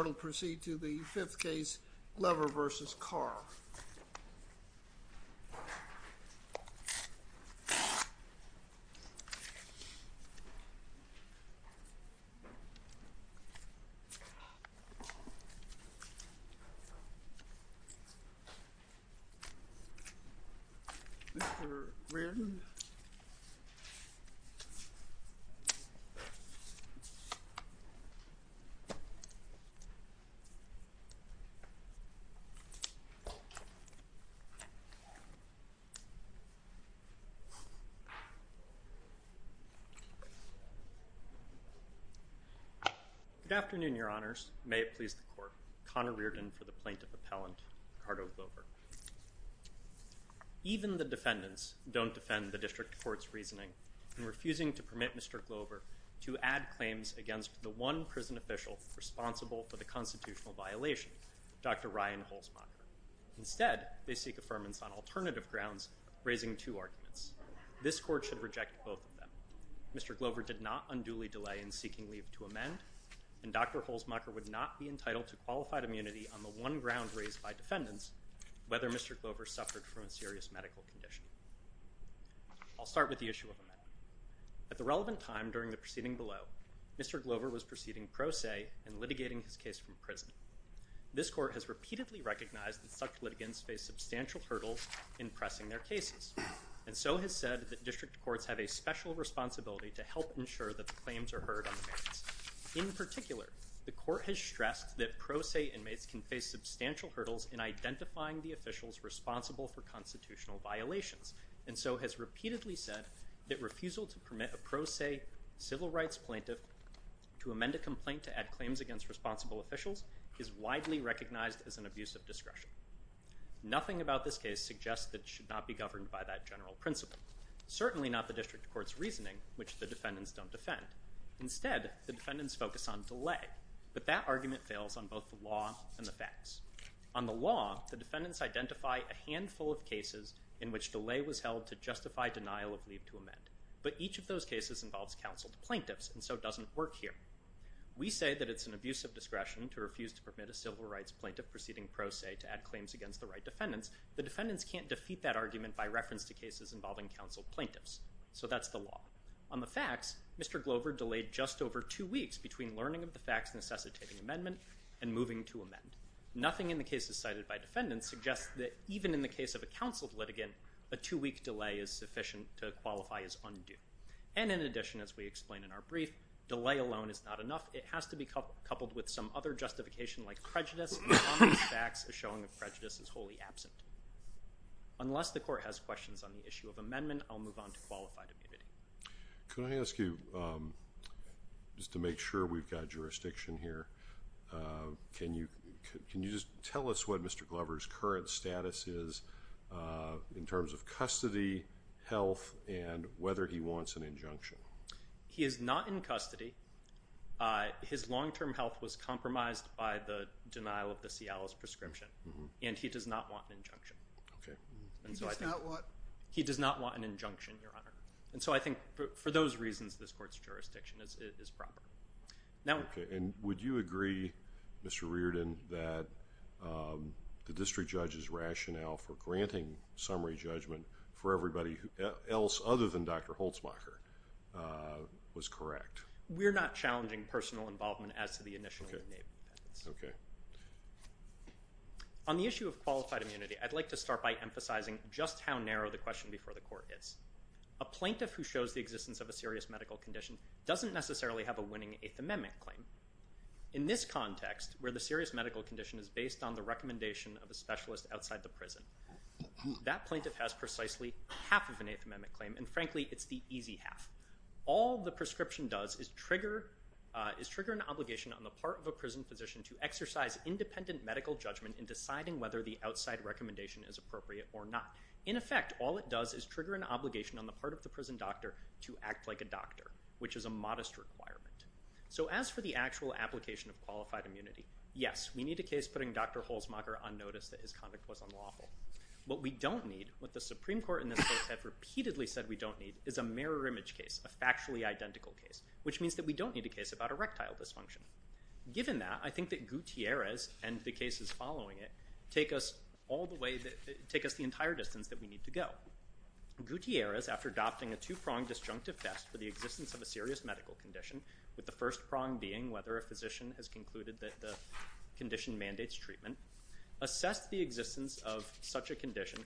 The court will proceed to the fifth case, Glover v. Carr. Mr. Reardon. Good afternoon, your honors. May it please the court. Connor Reardon for the plaintiff appellant, Ricardo Glover. Even the defendants don't defend the district court's reasoning in refusing to permit Mr. Glover to add claims against the one prison official responsible for the constitutional violation, Dr. Ryan Holzmacher. Instead, they seek affirmance on alternative grounds, raising two arguments. This court should reject both of them. Mr. Glover did not unduly delay in seeking leave to amend, and Dr. Holzmacher would not be entitled to qualified immunity on the one ground raised by defendants, whether Mr. Glover suffered from a serious medical condition. I'll start with the issue of amendment. At the relevant time during the proceeding below, Mr. Glover was proceeding pro se and litigating his case from prison. This court has repeatedly recognized that such litigants face substantial hurdles in pressing their cases, and so has said that district courts have a special responsibility to help ensure that the claims are heard on the merits. In particular, the court has stressed that pro se inmates can face substantial hurdles in identifying the officials responsible for constitutional violations, and so has repeatedly said that refusal to permit a pro se civil to amend a complaint to add claims against responsible officials is widely recognized as an abuse of discretion. Nothing about this case suggests that it should not be governed by that general principle, certainly not the district court's reasoning, which the defendants don't defend. Instead, the defendants focus on delay, but that argument fails on both the law and the facts. On the law, the defendants identify a handful of cases in which delay was held to justify denial of leave to amend, but each of those cases involves counseled work here. We say that it's an abuse of discretion to refuse to permit a civil rights plaintiff proceeding pro se to add claims against the right defendants. The defendants can't defeat that argument by reference to cases involving counseled plaintiffs, so that's the law. On the facts, Mr. Glover delayed just over two weeks between learning of the facts necessitating amendment and moving to amend. Nothing in the cases cited by defendants suggests that even in the case of a counseled litigant, a two-week delay is sufficient to qualify as undue. And in addition, as we explained in our brief, delay alone is not enough. It has to be coupled with some other justification like prejudice. On the facts, a showing of prejudice is wholly absent. Unless the court has questions on the issue of amendment, I'll move on to qualified immunity. Can I ask you, just to make sure we've got jurisdiction here, can you just tell us what whether he wants an injunction? He is not in custody. His long-term health was compromised by the denial of the Cialis prescription, and he does not want an injunction. He does not want an injunction, Your Honor. And so I think for those reasons, this court's jurisdiction is proper. Would you agree, Mr. Reardon, that the district judge's rationale for granting summary judgment for everybody else other than Dr. Holtzmacher was correct? We're not challenging personal involvement as to the initial name of the defendants. On the issue of qualified immunity, I'd like to start by emphasizing just how narrow the question before the court is. A plaintiff who shows the existence of a serious medical condition doesn't necessarily have a winning Eighth Amendment claim. In this context, where the serious medical condition is based on the recommendation of a specialist outside the prison, that plaintiff has precisely half of an Eighth Amendment claim, and frankly, it's the easy half. All the prescription does is trigger an obligation on the part of a prison physician to exercise independent medical judgment in deciding whether the outside recommendation is appropriate or not. In effect, all it does is trigger an obligation on the part of the prison doctor to act like a doctor, which is a modest requirement. So as for the actual application of qualified immunity, yes, we need a case putting Dr. Holtzmacher's statement was unlawful. What we don't need, what the Supreme Court in this case have repeatedly said we don't need, is a mirror image case, a factually identical case, which means that we don't need a case about erectile dysfunction. Given that, I think that Gutierrez and the cases following it take us all the way, take us the entire distance that we need to go. Gutierrez, after adopting a two-pronged disjunctive test for the existence of a serious medical condition, with the first prong being whether a physician has concluded that the condition mandates treatment, assessed the existence of such a condition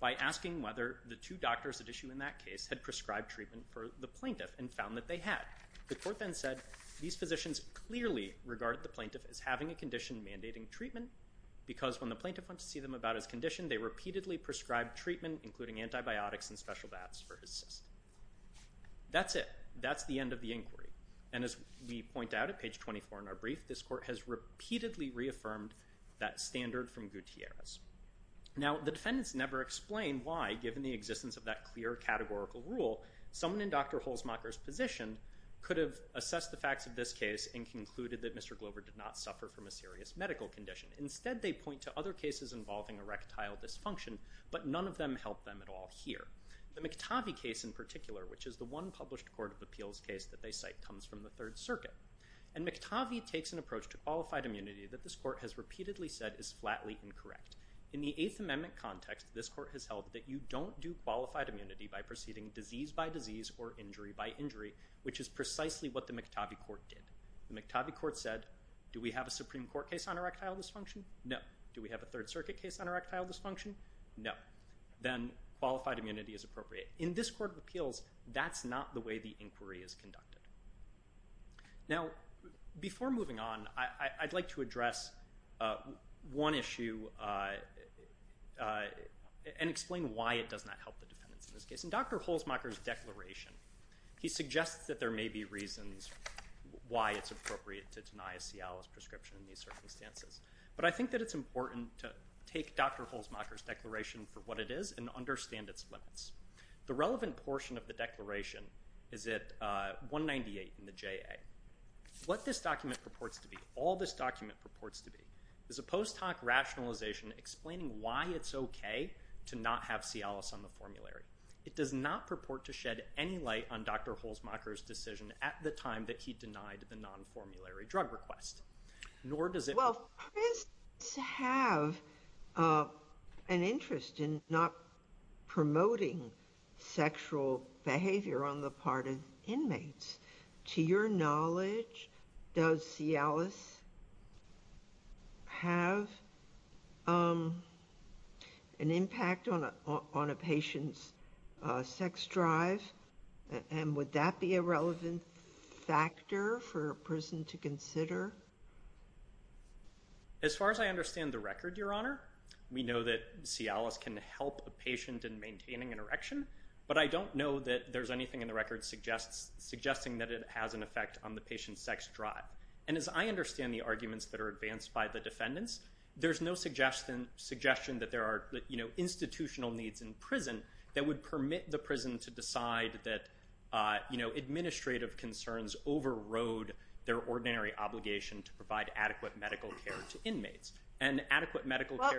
by asking whether the two doctors at issue in that case had prescribed treatment for the plaintiff and found that they had. The court then said these physicians clearly regarded the plaintiff as having a condition mandating treatment because when the plaintiff went to see them about his condition, they repeatedly prescribed treatment, including antibiotics and special baths for his cyst. That's it. That's the end of the inquiry. And as we point out at page 24 in our brief, this court has repeatedly reaffirmed that standard from Gutierrez. Now, the defendants never explain why, given the existence of that clear categorical rule, someone in Dr. Holzmacher's position could have assessed the facts of this case and concluded that Mr. Glover did not suffer from a serious medical condition. Instead, they point to other cases involving erectile dysfunction, but none of them help them at all here. The McTavie case in particular, which is the one published court of appeals case that they cite comes from the Third Circuit. And McTavie takes an approach to qualified immunity that this court has repeatedly said is flatly incorrect. In the Eighth Amendment context, this court has held that you don't do qualified immunity by proceeding disease by disease or injury by injury, which is precisely what the McTavie court did. The McTavie court said, do we have a Supreme Court case on erectile dysfunction? No. Do we have a Third Circuit case on erectile dysfunction? No. Then qualified immunity is appropriate. In this court of appeals, that's not the way the inquiry is conducted. Now, before moving on, I'd like to address one issue and explain why it does not help the defendants in this case. In Dr. Holzmacher's declaration, he suggests that there may be reasons why it's appropriate to deny a Cialis prescription in these circumstances. But I think that it's important to take Dr. Holzmacher's declaration for what it is and understand its limits. The relevant portion of the declaration is at 198 in the JA. What this document purports to be, all this document purports to be, is a post hoc rationalization explaining why it's OK to not have Cialis on the formulary. It does not purport to shed any light on Dr. Holzmacher's decision at the time that he made the non-formulary drug request. Nor does it... Well, if prisoners have an interest in not promoting sexual behavior on the part of inmates, to your knowledge, does Cialis have an impact on a patient's sex drive? And would that be a relevant factor for a prison to consider? As far as I understand the record, Your Honor, we know that Cialis can help a patient in maintaining an erection, but I don't know that there's anything in the record suggesting that it has an effect on the patient's sex drive. And as I understand the arguments that are advanced by the defendants, there's no suggestion that there are institutional needs in prison that would permit the prison to do that. Administrative concerns overrode their ordinary obligation to provide adequate medical care to inmates. And adequate medical care...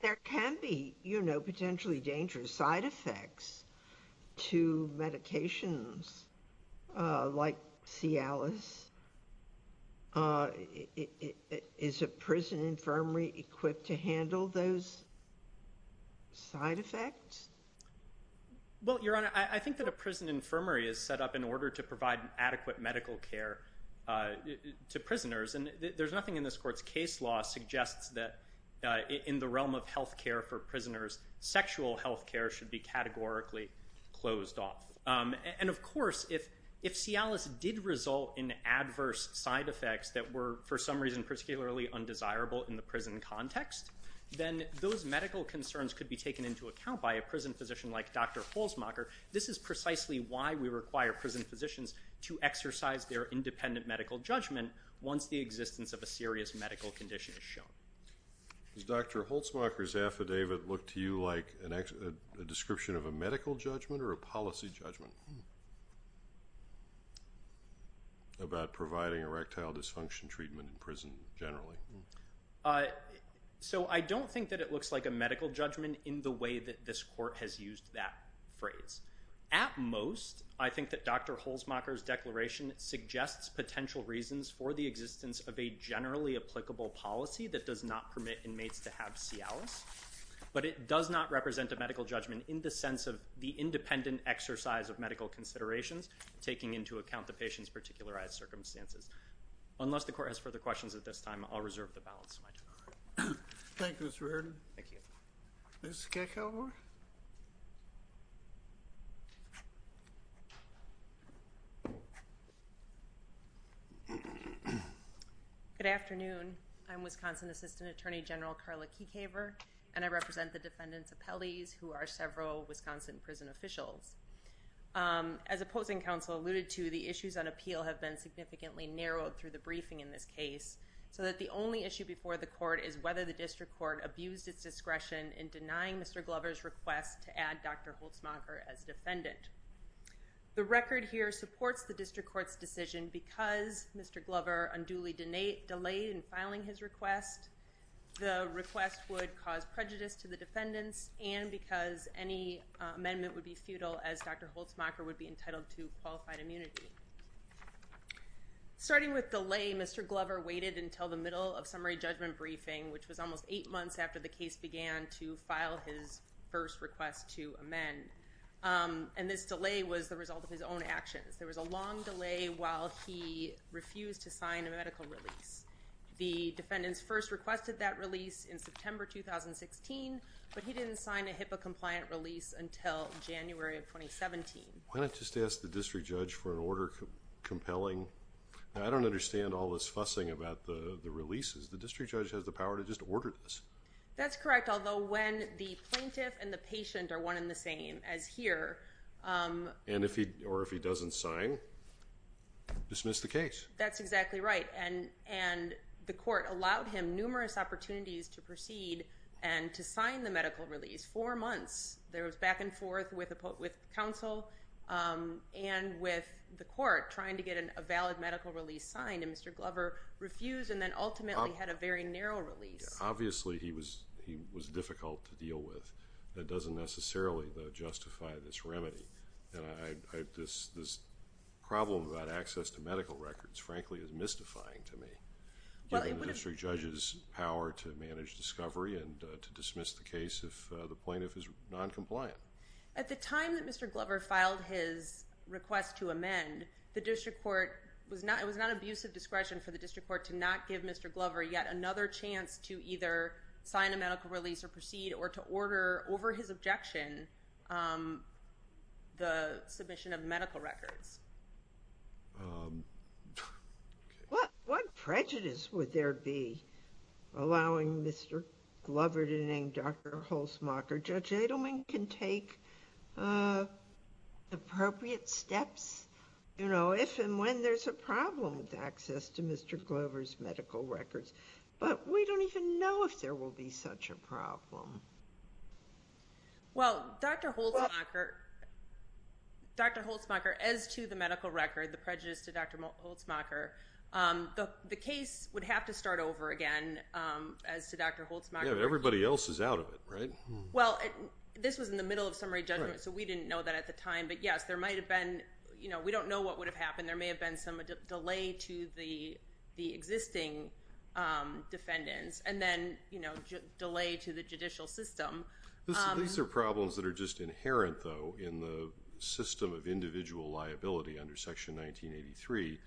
There can be potentially dangerous side effects to medications like Cialis. Is a prison infirmary equipped to handle those side effects? Well, Your Honor, I think that a prison infirmary is set up in order to provide adequate medical care to prisoners. And there's nothing in this Court's case law that suggests that in the realm of health care for prisoners, sexual health care should be categorically closed off. And of course, if Cialis did result in adverse side effects that were for some reason particularly undesirable in the prison context, then those medical concerns could be taken into account by a prison physician like Dr. Holtzmacher. This is precisely why we require prison physicians to exercise their independent medical judgment once the existence of a serious medical condition is shown. Does Dr. Holtzmacher's affidavit look to you like a description of a medical judgment or a policy judgment about providing erectile dysfunction treatment in prison generally? So, I don't think that it looks like a medical judgment in the way that this Court has used that phrase. At most, I think that Dr. Holtzmacher's declaration suggests potential reasons for the existence of a generally applicable policy that does not permit inmates to have Cialis. But it does not represent a medical judgment in the sense of the independent exercise of medical considerations taking into account the patient's particular circumstances. Unless the Court has further questions at this time, I'll reserve the balance of my time. Thank you, Mr. Airden. Thank you. Ms. Kekauver? Good afternoon. I'm Wisconsin Assistant Attorney General Carla Kekauver, and I represent the defendants' appellees, who are several Wisconsin prison officials. As opposing counsel alluded to, the issues on appeal have been significantly narrowed through the briefing in this case, so that the only issue before the Court is whether the District Court abused its discretion in denying Mr. Glover's request to add Dr. Holtzmacher as defendant. The record here supports the District Court's decision because Mr. Glover unduly delayed in filing his request, the request would cause prejudice to the defendants, and because any amendment would be futile as Dr. Holtzmacher would be entitled to qualified immunity. Starting with delay, Mr. Glover waited until the middle of summary judgment briefing, which was almost eight months after the case began, to file his first request to amend. And this delay was the result of his own actions. There was a long delay while he refused to sign a medical release. The defendants first requested that release in September 2016, but he didn't sign a HIPAA-compliant release until January of 2017. Why not just ask the District Judge for an order compelling... I don't understand all this fussing about the releases. The District Judge has the power to just order this. That's correct, although when the plaintiff and the patient are one and the same as here... And if he... or if he doesn't sign, dismiss the case. That's exactly right, and the Court allowed him numerous opportunities to proceed and to sign the medical release. Four months, there was back and forth with counsel and with the Court trying to get a valid medical release signed, and Mr. Glover refused and then ultimately had a very narrow release. Obviously, he was difficult to deal with. That doesn't necessarily, though, justify this remedy. This problem about access to medical records, frankly, is mystifying to me, given the District Judge's power to manage discovery and to dismiss the case if the plaintiff is non-compliant. At the time that Mr. Glover filed his request to amend, the District Court was not... it was not an abuse of discretion for the District Court to not give Mr. Glover yet another chance to either sign a medical release or proceed or to order, over his objection, the submission of medical records. What prejudice would there be allowing Mr. Glover to name Dr. Holzmacher? Judge Adelman can take appropriate steps, you know, if and when there's a problem with access to Mr. Glover's medical records, but we don't even know if there will be such a problem. Well, Dr. Holzmacher, as to the medical record, the prejudice to Dr. Holzmacher, the case would have to start over again, as to Dr. Holzmacher. Yeah, but everybody else is out of it, right? Well, this was in the middle of summary judgment, so we didn't know that at the time, but yes, there might have been, you know, we don't know what would have happened. There may have been some delay to the existing defendants, and then, you know, delay to the judicial system. These are problems that are just inherent, though, in the system of individual liability under Section 1983,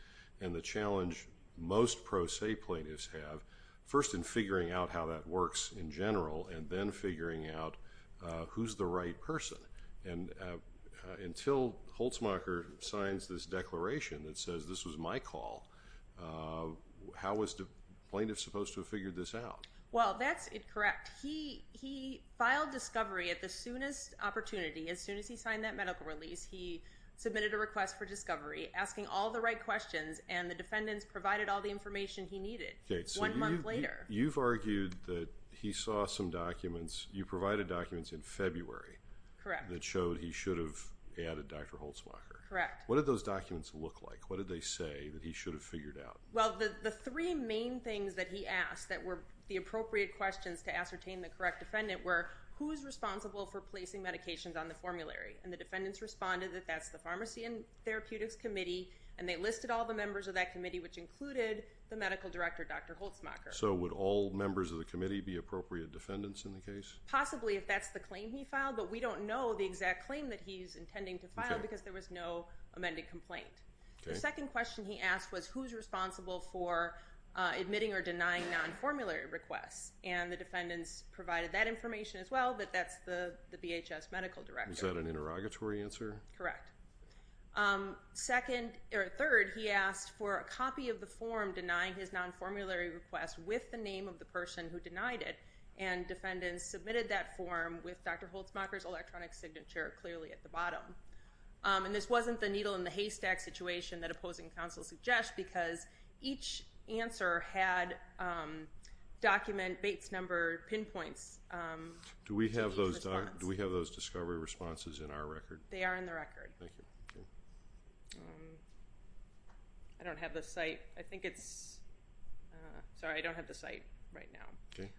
and the challenge most pro se plaintiffs have, first in figuring out how that works in general, and then figuring out who's the right person. And until Holzmacher signs this declaration that says, this was my call, how was the plaintiff supposed to have figured this out? Well, that's correct. He filed discovery at the soonest opportunity. As soon as he signed that medical release, he submitted a request for discovery, asking all the right questions, and the defendants provided all the information he needed one month later. You've argued that he saw some documents, you provided documents in February that showed he should have added Dr. Holzmacher. Correct. What did those documents look like? What did they say that he should have figured out? Well, the three main things that he asked that were the appropriate questions to ascertain the correct defendant were, who is responsible for placing medications on the formulary? And the defendants responded that that's the Pharmacy and Therapeutics Committee, and they listed all the members of that committee, which included the medical director, Dr. Holzmacher. So, would all members of the committee be appropriate defendants in the case? Possibly, if that's the claim he filed, but we don't know the exact claim that he's intending to file because there was no amended complaint. The second question he asked was, who's responsible for admitting or denying non-formulary requests? And the defendants provided that information as well, but that's the BHS medical director. Is that an interrogatory answer? Correct. Third, he asked for a copy of the form denying his non-formulary request with the name of the person who denied it, and defendants submitted that form with Dr. Holzmacher's electronic signature clearly at the bottom. And this wasn't the needle in the haystack situation that opposing counsel suggests, because each answer had document Bates number pinpoints. Do we have those discovery responses in our record? They are in the record. Thank you. I don't have the site. I think it's... Sorry, I don't have the site right now. Okay.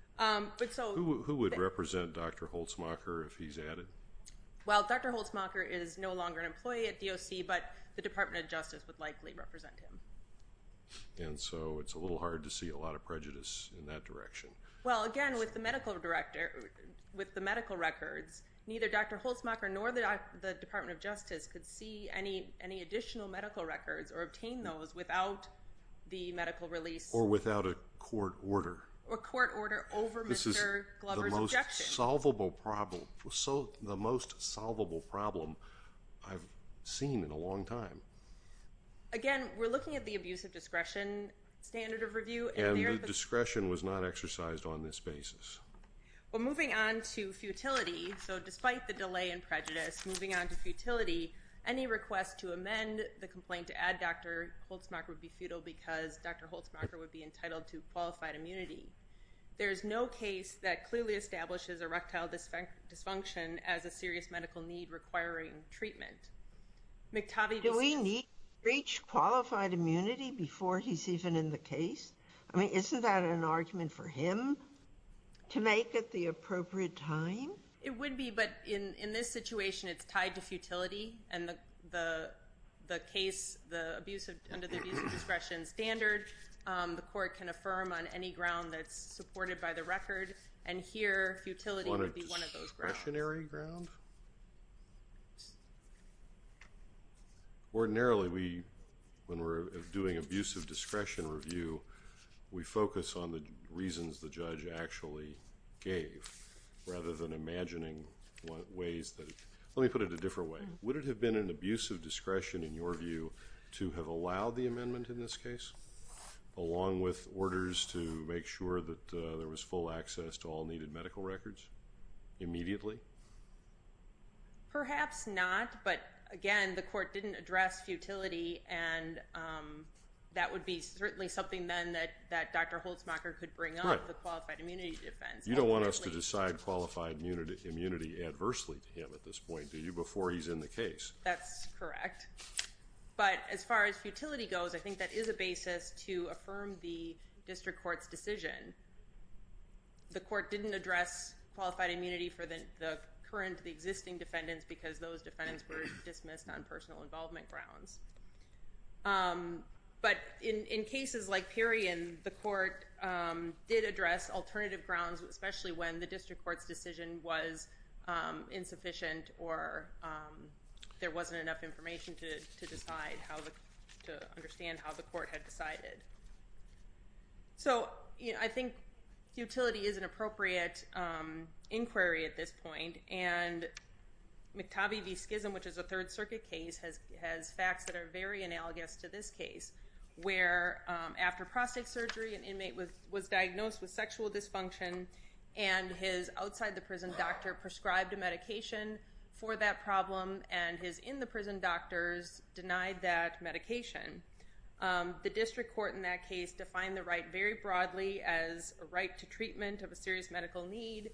Who would represent Dr. Holzmacher if he's at it? Well, Dr. Holzmacher is no longer an employee at DOC, but the Department of Justice would likely represent him. And so it's a little hard to see a lot of prejudice in that direction. Well, again, with the medical records, neither Dr. Holzmacher nor the Department of Justice could see any additional medical records or obtain those without the medical release. Or without a court order. Or court order over Mr. Glover's objection. This is the most solvable problem I've seen in a long time. Again, we're looking at the abuse of discretion standard of review. And the discretion was not exercised on this basis. Well, moving on to futility. So despite the delay in prejudice, moving on to futility, any request to amend the complaint to add Dr. Holzmacher would be futile because Dr. Holzmacher would be entitled to qualified immunity. There is no case that clearly establishes erectile dysfunction as a serious medical need requiring treatment. Do we need to reach qualified immunity before he's even in the case? I mean, isn't that an argument for him to make at the appropriate time? It would be, but in this situation it's tied to futility. And the case under the abuse of discretion standard, the court can affirm on any ground that's supported by the record. And here, futility would be one of those grounds. On a discretionary ground? Ordinarily, when we're doing abuse of discretion review, we focus on the reasons the judge actually gave rather than imagining ways that he could. Let me put it a different way. Would it have been an abuse of discretion, in your view, to have allowed the amendment in this case along with orders to make sure that there was full access to all needed medical records immediately? Perhaps not, but again, the court didn't address futility, and that would be certainly something then that Dr. Holzmacher could bring up, the qualified immunity defense. You don't want us to decide qualified immunity adversely to him at this point, do you, before he's in the case? That's correct. But as far as futility goes, I think that is a basis to affirm the district court's decision. The court didn't address qualified immunity for the current, the existing defendants, because those defendants were dismissed on personal involvement grounds. But in cases like Perion, the court did address alternative grounds, especially when the district court's decision was insufficient or there wasn't enough information to understand how the court had decided. So I think futility is an appropriate inquiry at this point, and McTobie v. Schism, which is a Third Circuit case, has facts that are very analogous to this case, where after prostate surgery an inmate was diagnosed with sexual dysfunction and his outside-the-prison doctor prescribed a medication for that problem and his in-the-prison doctors denied that medication. The district court in that case defined the right very broadly as a right to treatment of a serious medical need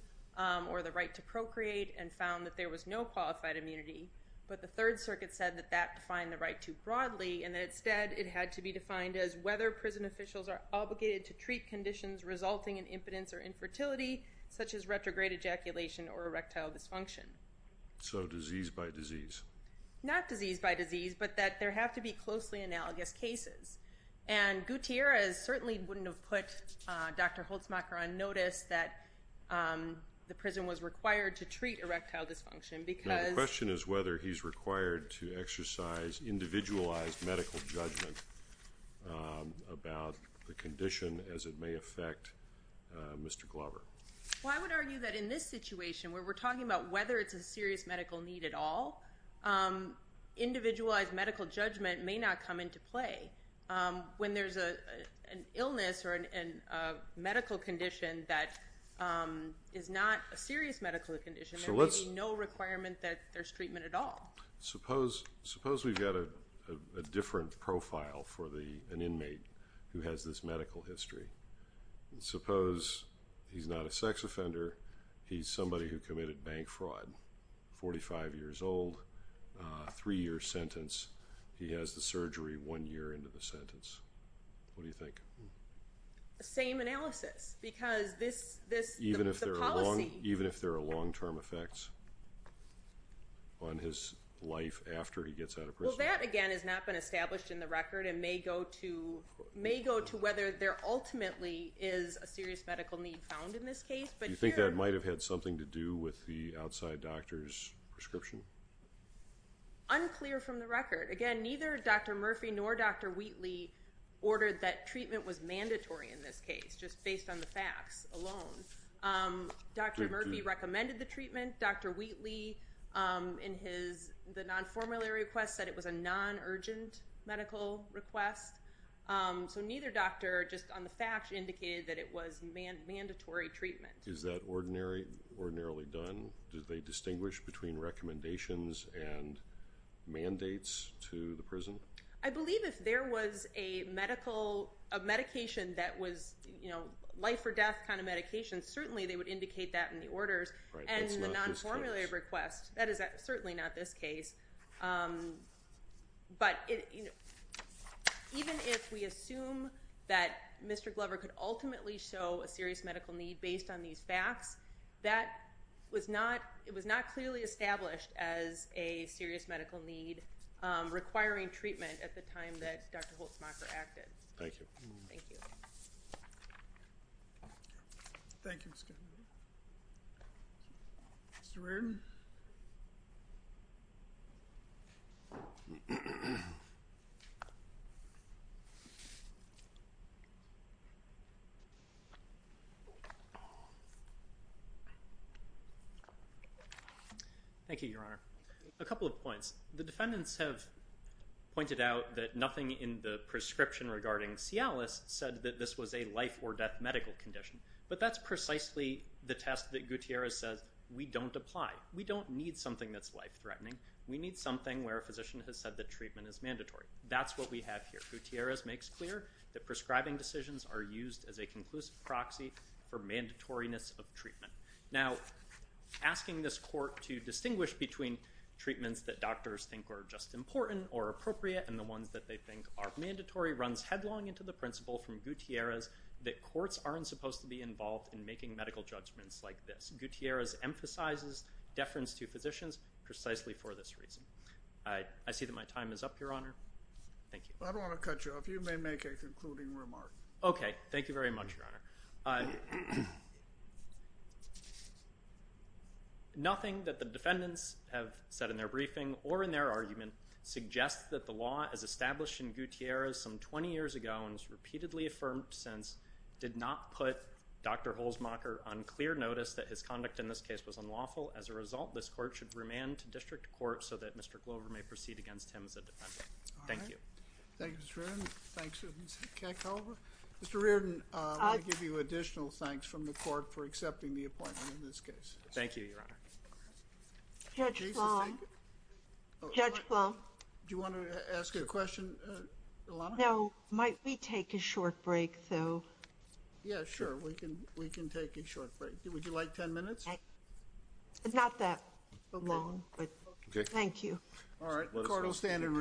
or the right to procreate and found that there was no qualified immunity. But the Third Circuit said that that defined the right too broadly and that instead it had to be defined as whether prison officials are obligated to treat conditions resulting in impotence or infertility, such as retrograde ejaculation or erectile dysfunction. So disease by disease? Not disease by disease, but that there have to be closely analogous cases. And Gutierrez certainly wouldn't have put Dr. Holtzmacher on notice that the prison was required to treat erectile dysfunction because... No, the question is whether he's required to exercise individualized medical judgment about the condition as it may affect Mr. Glover. Well, I would argue that in this situation, where we're talking about whether it's a serious medical need at all, individualized medical judgment may not come into play. When there's an illness or a medical condition that is not a serious medical condition, there may be no requirement that there's treatment at all. Suppose we've got a different profile for an inmate who has this medical history. Suppose he's not a sex offender, he's somebody who committed bank fraud, 45 years old, three-year sentence. He has the surgery one year into the sentence. What do you think? Same analysis because this policy... Even if there are long-term effects on his life after he gets out of prison. Well, that, again, has not been established in the record and may go to whether there ultimately is a serious medical need found in this case. Do you think that might have had something to do with the outside doctor's prescription? Unclear from the record. Again, neither Dr. Murphy nor Dr. Wheatley ordered that treatment was mandatory in this case, just based on the facts alone. Dr. Murphy recommended the treatment. Dr. Wheatley, in the non-formulary request, said it was a non-urgent medical request. So neither doctor, just on the facts, indicated that it was mandatory treatment. Is that ordinarily done? Do they distinguish between recommendations and mandates to the prison? I believe if there was a medication that was life-or-death kind of medication, certainly they would indicate that in the orders. And in the non-formulary request, that is certainly not this case. But even if we assume that Mr. Glover could ultimately show a serious medical need based on these facts, that was not clearly established as a serious medical need requiring treatment at the time that Dr. Holtzmacher acted. Thank you. Thank you. Mr. Reardon? Thank you, Your Honor. A couple of points. The defendants have pointed out that nothing in the prescription regarding Cialis said that this was a life-or-death medical condition. But that's precisely the test that Gutierrez says we don't apply. We need something where a physician has said that treatment is mandatory. That's what we have here. Gutierrez makes clear that prescribing decisions are used as a conclusive proxy for mandatoriness of treatment. Now, asking this court to distinguish between treatments that doctors think are just important or appropriate and the ones that they think are mandatory runs headlong into the principle from Gutierrez that courts aren't supposed to be involved in making medical judgments like this. Gutierrez emphasizes deference to physicians precisely for this reason. I see that my time is up, Your Honor. Thank you. I don't want to cut you off. You may make a concluding remark. Okay. Thank you very much, Your Honor. Nothing that the defendants have said in their briefing or in their argument suggests that the law as established in Gutierrez some 20 years ago and has repeatedly affirmed since did not put Dr. Holzmacher on clear notice that his conduct in this case was unlawful. As a result, this court should remand to district court so that Mr. Glover may proceed against him as a defendant. Thank you. All right. Thank you, Mr. Reardon. Thank you, Ms. Keckhover. Mr. Reardon, I want to give you additional thanks from the court for accepting the appointment in this case. Thank you, Your Honor. Judge Blum. Judge Blum. Do you want to ask a question, Ilana? No. Might we take a short break, though? Yeah, sure. We can take a short break. Would you like ten minutes? Not that long, but thank you. All right. The court will stand and read.